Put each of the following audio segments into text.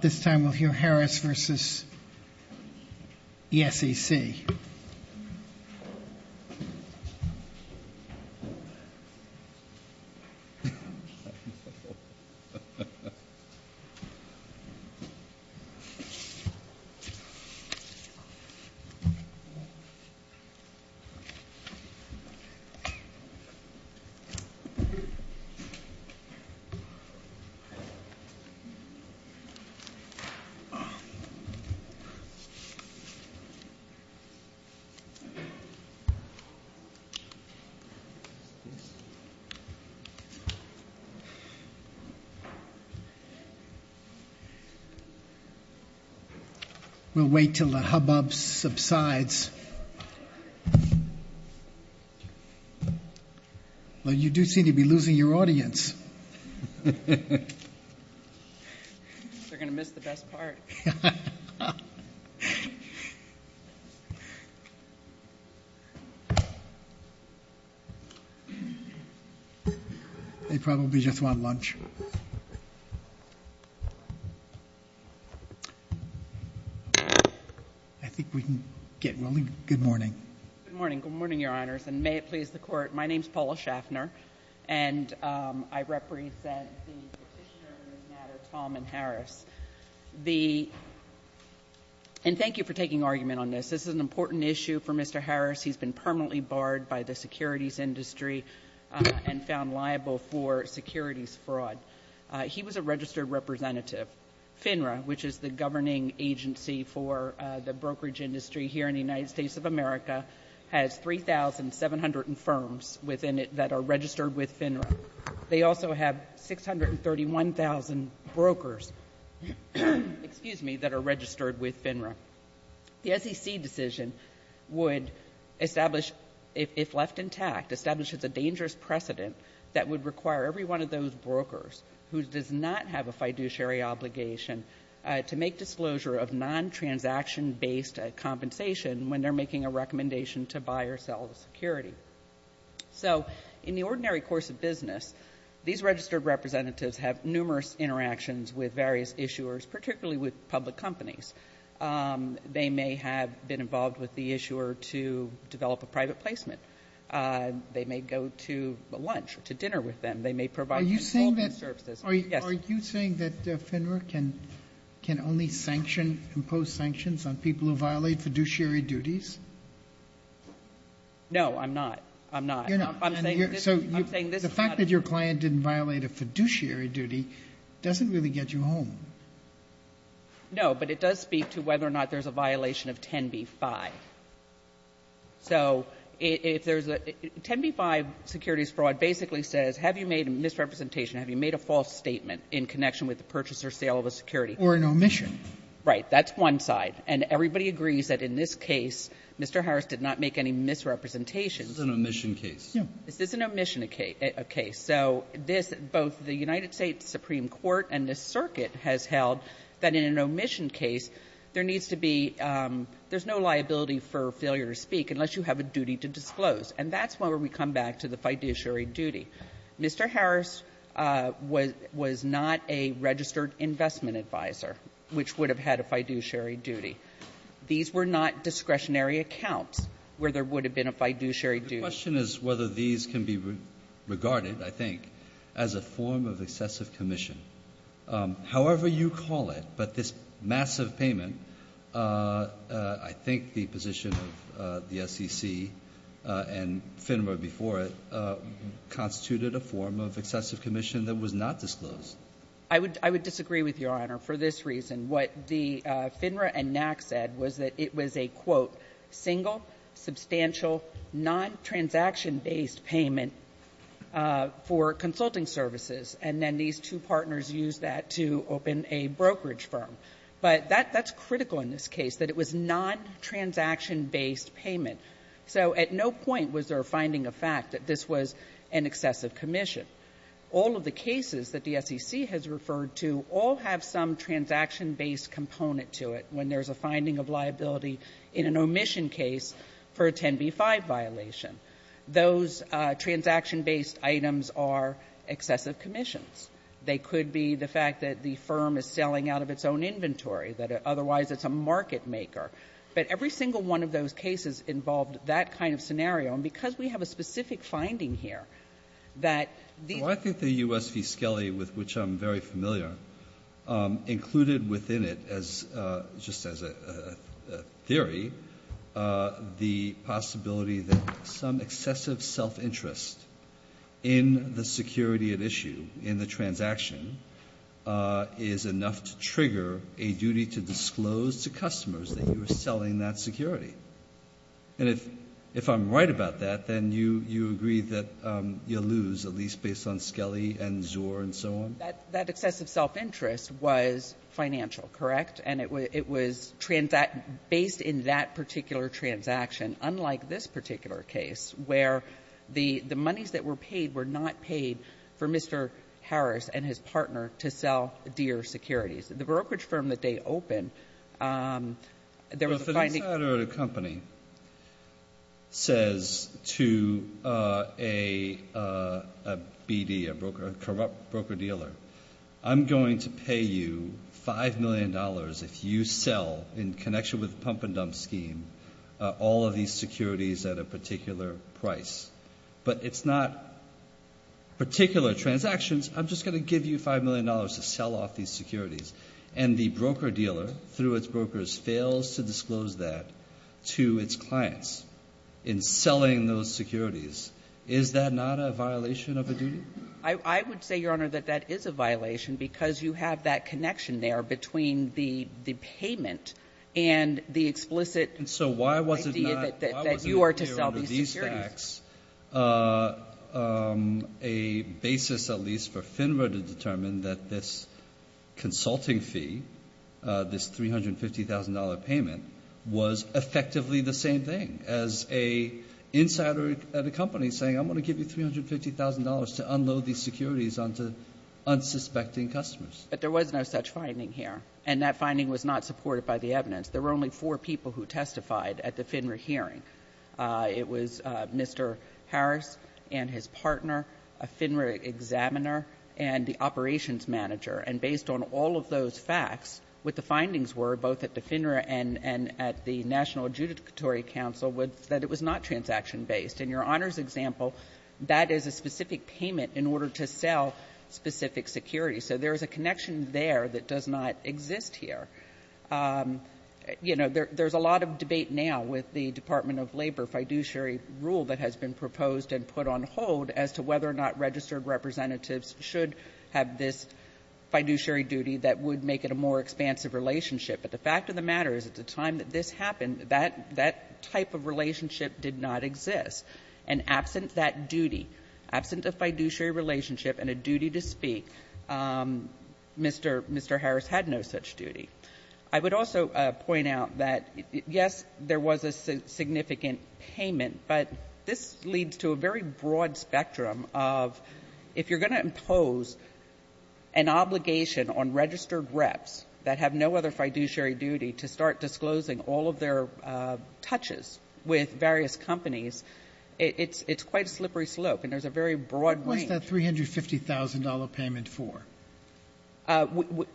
This time we'll hear Harris v. the SEC. We'll wait until the hubbub subsides. You do seem to be losing your audience. They're going to miss the best part. They probably just want lunch. I think we can get rolling. Good morning. Good morning. Good morning, Your Honors, and may it please the Court, my name is Paula Schaffner, and I represent the petitioner in this matter, Tom M. Harris. And thank you for taking argument on this. This is an important issue for Mr. Harris. He's been permanently barred by the securities industry and found liable for securities fraud. He was a registered representative. FINRA, which is the governing agency for the brokerage industry here in the United States of America, has 3,700 firms within it that are registered with FINRA. They also have 631,000 brokers, excuse me, that are registered with FINRA. The SEC decision would establish, if left intact, establishes a dangerous precedent that would require every one of those brokers who does not have a fiduciary obligation to make disclosure of non-transaction-based compensation when they're making a recommendation to buy or sell the security. So in the ordinary course of business, these registered representatives have numerous interactions with various issuers, particularly with public companies. They may have been involved with the issuer to develop a private placement. They may go to lunch or to dinner with them. Are you saying that FINRA can only sanction, impose sanctions on people who violate fiduciary duties? No, I'm not. I'm not. So the fact that your client didn't violate a fiduciary duty doesn't really get you home. No, but it does speak to whether or not there's a violation of 10b-5. So if there's a 10b-5 securities fraud basically says, have you made a misrepresentation, have you made a false statement in connection with the purchase or sale of a security? Or an omission. Right. That's one side. And everybody agrees that in this case, Mr. Harris did not make any misrepresentations. This is an omission case. Yeah. This is an omission case. So this, both the United States Supreme Court and this circuit has held that in an omission case, there needs to be, there's no liability for failure to speak unless you have a duty to disclose. And that's where we come back to the fiduciary duty. Mr. Harris was not a registered investment advisor, which would have had a fiduciary duty. These were not discretionary accounts where there would have been a fiduciary duty. The question is whether these can be regarded, I think, as a form of excessive commission. However you call it, but this massive payment, I think the position of the SEC and FINRA before it constituted a form of excessive commission that was not disclosed. I would disagree with Your Honor for this reason. What the FINRA and NAC said was that it was a, quote, single, substantial, non-transaction-based payment for consulting services. And then these two partners used that to open a brokerage firm. But that's critical in this case, that it was non-transaction-based payment. So at no point was there a finding of fact that this was an excessive commission. All of the cases that the SEC has referred to all have some transaction-based component to it when there's a finding of liability in an omission case for a 10b-5 violation. Those transaction-based items are excessive commissions. They could be the fact that the firm is selling out of its own inventory, that otherwise it's a market maker. But every single one of those cases involved that kind of scenario. And because we have a specific finding here, that these are not the same. Just as a theory, the possibility that some excessive self-interest in the security at issue, in the transaction, is enough to trigger a duty to disclose to customers that you're selling that security. And if I'm right about that, then you agree that you'll lose, at least based on Skelly and Zur and so on? That excessive self-interest was financial, correct? And it was based in that particular transaction, unlike this particular case, where the monies that were paid were not paid for Mr. Harris and his partner to sell Deere securities. The brokerage firm that they opened, there was a finding of a company says to a BD, a corrupt broker-dealer, I'm going to pay you $5 million if you sell, in connection with pump-and-dump scheme, all of these securities at a particular price. But it's not particular transactions. I'm just going to give you $5 million to sell off these securities. And the broker-dealer, through its brokers, fails to disclose that to its clients in selling those securities. Is that not a violation of a duty? I would say, Your Honor, that that is a violation, because you have that connection there between the payment and the explicit idea that you are to sell these securities. And so why was it not clear under these facts a basis at least for FINRA to determine that this consulting fee, this $350,000 payment, was effectively the same thing, as an insider at a company saying, I'm going to give you $350,000 to unload these securities onto unsuspecting customers? But there was no such finding here. And that finding was not supported by the evidence. There were only four people who testified at the FINRA hearing. It was Mr. Harris and his partner, a FINRA examiner, and the operations manager. And based on all of those facts, what the findings were, both at the FINRA and at the National Adjudicatory Council, was that it was not transaction-based. In Your Honor's example, that is a specific payment in order to sell specific securities. So there is a connection there that does not exist here. You know, there's a lot of debate now with the Department of Labor fiduciary rule that has been proposed and put on hold as to whether or not registered representatives should have this fiduciary duty that would make it a more expansive relationship. But the fact of the matter is, at the time that this happened, that type of relationship did not exist. And absent that duty, absent a fiduciary relationship and a duty to speak, Mr. Harris had no such duty. I would also point out that, yes, there was a significant payment, but this leads to a very broad spectrum of, if you're going to impose an obligation on registered reps that have no other fiduciary duty to start disclosing all of their touches with various companies, it's quite a slippery slope. And there's a very broad range. What was that $350,000 payment for?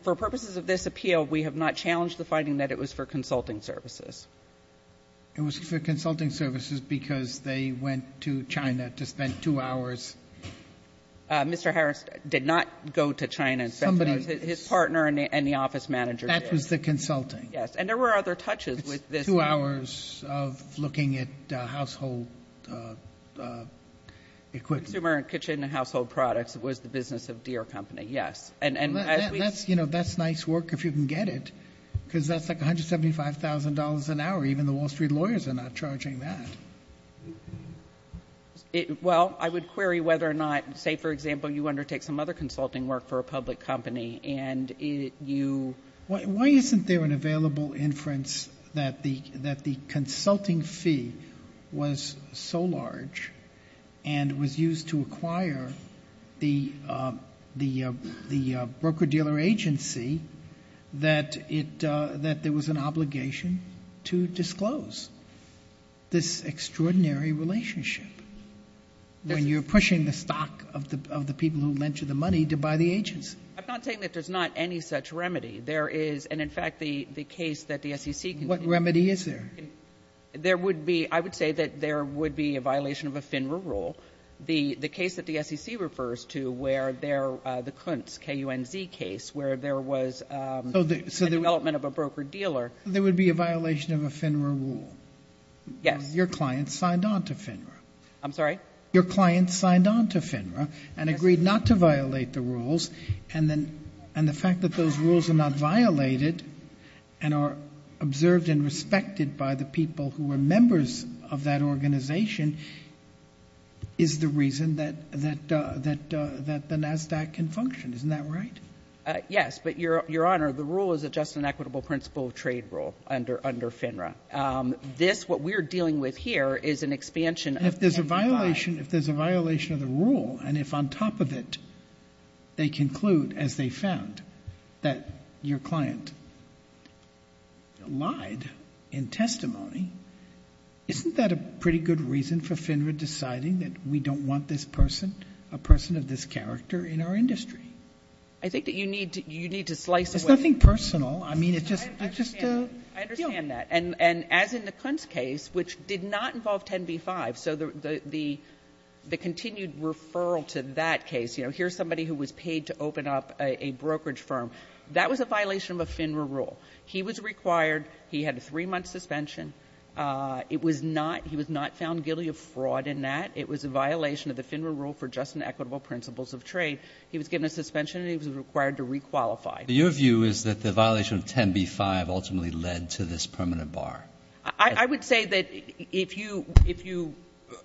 For purposes of this appeal, we have not challenged the finding that it was for consulting services. It was for consulting services because they went to China to spend two hours. Mr. Harris did not go to China. Somebody else. The partner and the office manager did. That was the consulting. Yes. And there were other touches with this. Two hours of looking at household equipment. Consumer and kitchen household products was the business of Deere Company, yes. That's nice work if you can get it because that's like $175,000 an hour. Even the Wall Street lawyers are not charging that. Well, I would query whether or not, say for example, you undertake some other Why isn't there an available inference that the consulting fee was so large and was used to acquire the broker-dealer agency that there was an obligation to disclose this extraordinary relationship when you're pushing the stock of the people who lent it to you? I'm not saying that there's not any such remedy. There is, and in fact, the case that the SEC conceded. What remedy is there? There would be, I would say that there would be a violation of a FINRA rule. The case that the SEC refers to where there, the Kuntz, K-U-N-Z case, where there was a development of a broker-dealer. So there would be a violation of a FINRA rule? Yes. Because your client signed on to FINRA. I'm sorry? Your client signed on to FINRA and agreed not to violate the rules, and the fact that those rules are not violated and are observed and respected by the people who are members of that organization is the reason that the NASDAQ can function. Isn't that right? Yes, but Your Honor, the rule is just an equitable principle of trade rule under FINRA. This, what we're dealing with here, is an expansion of the K-U-N-Z. And if there's a violation, if there's a violation of the rule, and if on top of it, they conclude, as they found, that your client lied in testimony, isn't that a pretty good reason for FINRA deciding that we don't want this person, a person of this character in our industry? I think that you need to, you need to slice away. It's nothing personal. I mean, it's just, it's just a, you know. I understand that. And as in the Kuntz case, which did not involve 10b-5, so the continued referral to that case, you know, here's somebody who was paid to open up a brokerage firm, that was a violation of a FINRA rule. He was required, he had a three-month suspension. It was not, he was not found guilty of fraud in that. It was a violation of the FINRA rule for just and equitable principles of trade. He was given a suspension, and he was required to requalify. Your view is that the violation of 10b-5 ultimately led to this permanent bar. I would say that if you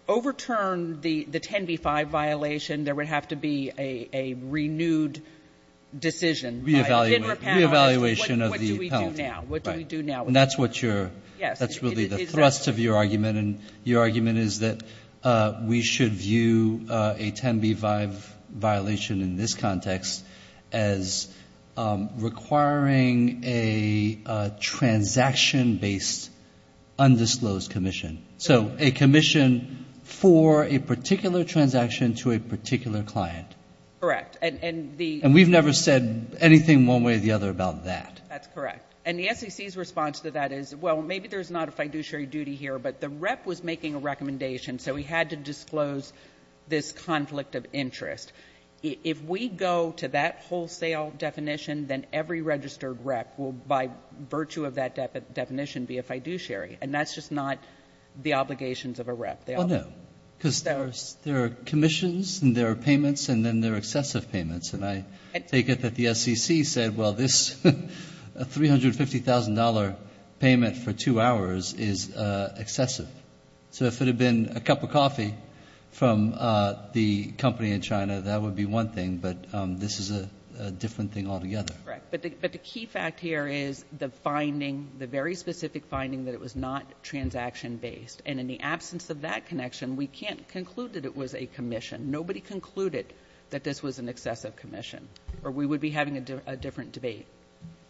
overturn the 10b-5 violation, there would have to be a renewed decision by FINRA panel. Re-evaluation of the penalty. What do we do now? Right. What do we do now? And that's what your, that's really the thrust of your argument. And your argument is that we should view a 10b-5 violation in this context as requiring a transaction-based undisclosed commission. So a commission for a particular transaction to a particular client. Correct. And the — And we've never said anything one way or the other about that. That's correct. And the SEC's response to that is, well, maybe there's not a fiduciary duty here. But the rep was making a recommendation, so he had to disclose this conflict of interest. If we go to that wholesale definition, then every registered rep will, by virtue of that definition, be a fiduciary. And that's just not the obligations of a rep. Well, no. Because there are commissions, and there are payments, and then there are excessive payments. And I take it that the SEC said, well, this $350,000 payment for two hours is excessive. So if it had been a cup of coffee from the company in China, that would be one thing. But this is a different thing altogether. Correct. But the key fact here is the finding, the very specific finding, that it was not transaction-based. And in the absence of that connection, we can't conclude that it was a commission. Nobody concluded that this was an excessive commission, or we would be having a different debate.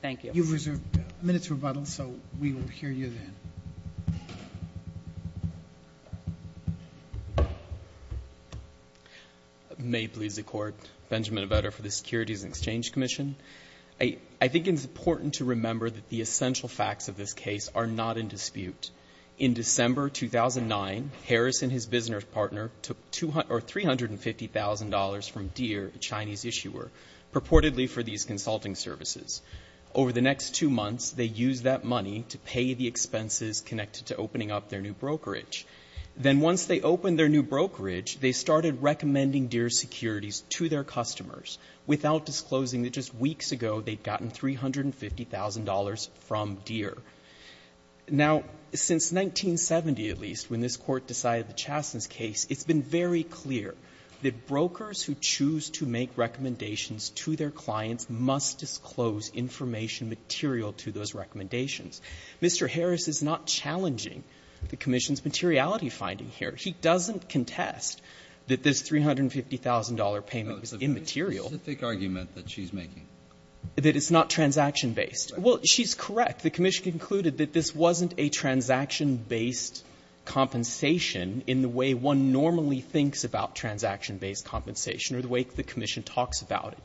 Thank you. You've reserved a minute's rebuttal, so we will hear you then. May it please the Court. Benjamin Avedo for the Securities and Exchange Commission. I think it's important to remember that the essential facts of this case are not in dispute. In December 2009, Harris and his business partner took $350,000 from Deere, a Chinese issuer, purportedly for these consulting services. Over the next two months, they used that money to pay the expenses connected to opening up their new brokerage. Then once they opened their new brokerage, they started recommending Deere securities to their customers, without disclosing that just weeks ago they'd gotten $350,000 from Deere. Now, since 1970, at least, when this Court decided the Chaston case, it's been very clear that brokers who choose to make recommendations to their clients must disclose information material to those recommendations. Mr. Harris is not challenging the commission's materiality finding here. He doesn't contest that this $350,000 payment was immaterial. The very specific argument that she's making. That it's not transaction-based. Well, she's correct. The commission concluded that this wasn't a transaction-based compensation in the way one normally thinks about transaction-based compensation or the way the commission talks about it.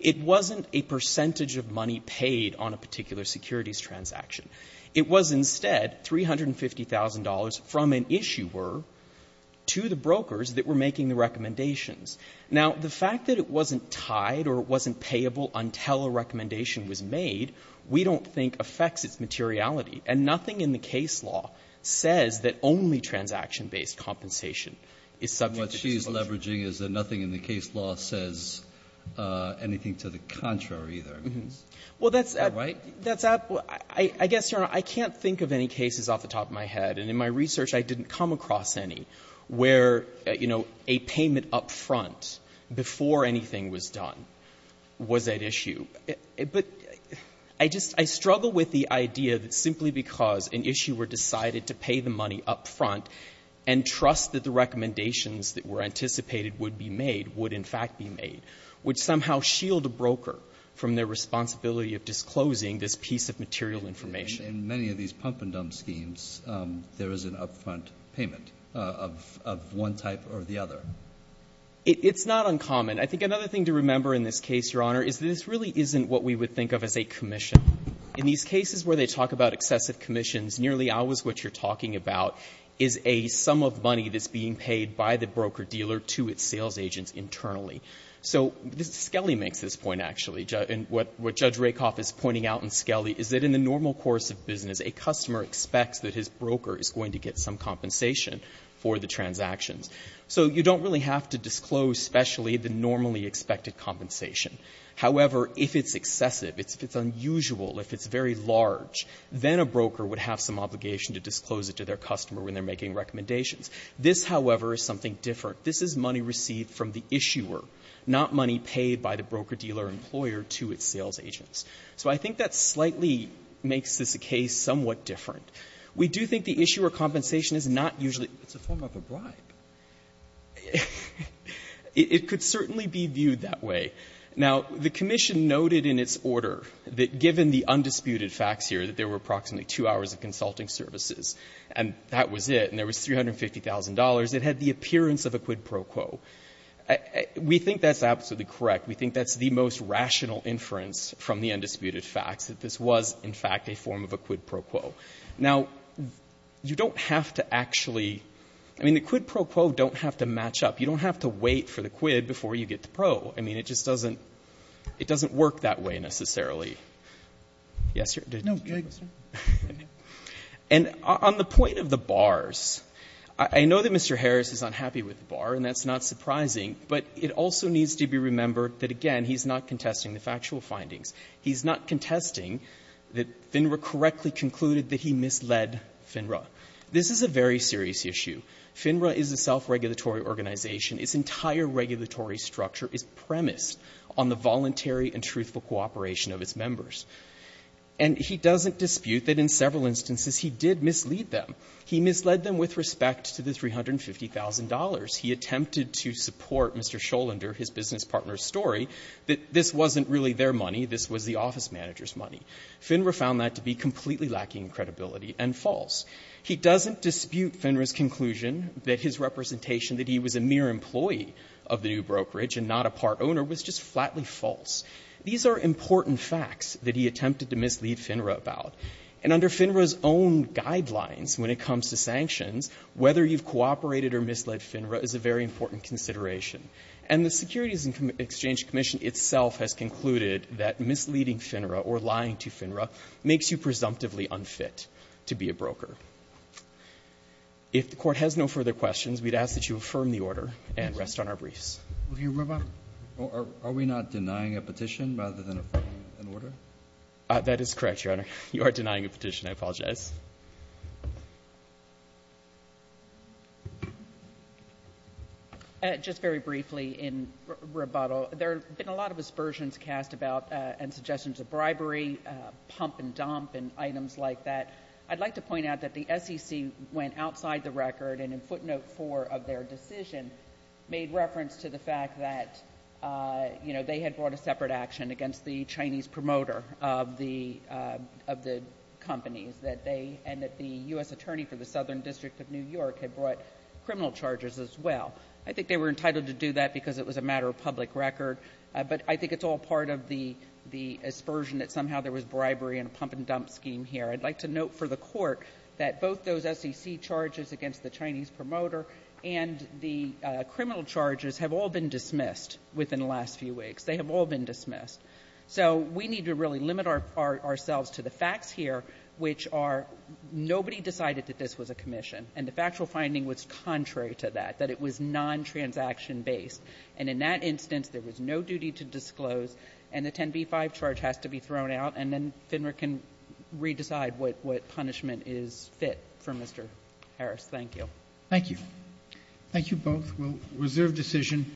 It wasn't a percentage of money paid on a particular securities transaction. It was instead $350,000 from an issuer to the brokers that were making the recommendations. Now, the fact that it wasn't tied or it wasn't payable until a recommendation was made, we don't think affects its materiality. And nothing in the case law says that only transaction-based compensation is subject to disclosure. Breyer. What she's leveraging is that nothing in the case law says anything to the contrary either. I mean, is that right? Well, that's at the point. I guess, Your Honor, I can't think of any cases off the top of my head. And in my research, I didn't come across any where, you know, a payment upfront before anything was done was at issue. But I just struggle with the idea that simply because an issuer decided to pay the money upfront and trust that the recommendations that were anticipated would be made, would in fact be made, would somehow shield a broker from their responsibility of disclosing this piece of material information. In many of these pump-and-dump schemes, there is an upfront payment of one type or the other. It's not uncommon. I think another thing to remember in this case, Your Honor, is this really isn't what we would think of as a commission. In these cases where they talk about excessive commissions, nearly always what you're talking about is a sum of money that's being paid by the broker-dealer to its sales agents internally. So Skelly makes this point, actually. And what Judge Rakoff is pointing out in Skelly is that in the normal course of business, a customer expects that his broker is going to get some compensation for the transactions. So you don't really have to disclose specially the normally expected compensation. However, if it's excessive, if it's unusual, if it's very large, then a broker would have some obligation to disclose it to their customer when they're making recommendations. This, however, is something different. This is money received from the issuer, not money paid by the broker-dealer employer to its sales agents. So I think that slightly makes this a case somewhat different. We do think the issuer compensation is not usually a form of a bribe. It could certainly be viewed that way. Now, the commission noted in its order that given the undisputed facts here, that there were approximately two hours of consulting services, and that was it, and there was $350,000, it had the appearance of a quid pro quo. We think that's absolutely correct. We think that's the most rational inference from the undisputed facts, that this was, in fact, a form of a quid pro quo. Now, you don't have to actually – I mean, the quid pro quo don't have to match up. You don't have to wait for the quid before you get the pro. I mean, it just doesn't – it doesn't work that way necessarily. Yes, sir? And on the point of the bars, I know that Mr. Harris is unhappy with the bar, and that's not surprising, but it also needs to be remembered that, again, he's not contesting the factual findings. He's not contesting that FINRA correctly concluded that he misled FINRA. This is a very serious issue. FINRA is a self-regulatory organization. Its entire regulatory structure is premised on the voluntary and truthful cooperation of its members. And he doesn't dispute that in several instances he did mislead them. He misled them with respect to the $350,000. He attempted to support Mr. Scholender, his business partner's story, that this wasn't really their money, this was the office manager's money. FINRA found that to be completely lacking credibility and false. He doesn't dispute FINRA's conclusion that his representation that he was a mere employee of the new brokerage and not a part owner was just flatly false. These are important facts that he attempted to mislead FINRA about. And under FINRA's own guidelines when it comes to sanctions, whether you've cooperated or misled FINRA is a very important consideration. And the Securities and Exchange Commission itself has concluded that misleading FINRA or lying to FINRA makes you presumptively unfit to be a broker. If the Court has no further questions, we'd ask that you affirm the order and rest on our briefs. Roberts. Are we not denying a petition rather than affirming an order? That is correct, Your Honor. You are denying a petition. I apologize. Just very briefly in rebuttal, there have been a lot of aspersions cast about and suggestions of bribery, pump and dump and items like that. I'd like to point out that the SEC went outside the record and in footnote four of their decision made reference to the fact that, you know, they had brought a separate action against the Chinese promoter of the companies and that the U.S. attorney for the Southern District of New York had brought criminal charges as well. I think they were entitled to do that because it was a matter of public record. But I think it's all part of the aspersion that somehow there was bribery and a pump and dump scheme here. I'd like to note for the Court that both those SEC charges against the Chinese promoter and the criminal charges have all been dismissed within the last few weeks. They have all been dismissed. So we need to really limit ourselves to the facts here, which are nobody decided that this was a commission. And the factual finding was contrary to that, that it was non-transaction based. And in that instance, there was no duty to disclose. And the 10b-5 charge has to be thrown out. And then FINRA can re-decide what punishment is fit for Mr. Harris. Thank you. Thank you. Thank you both. We'll reserve decision.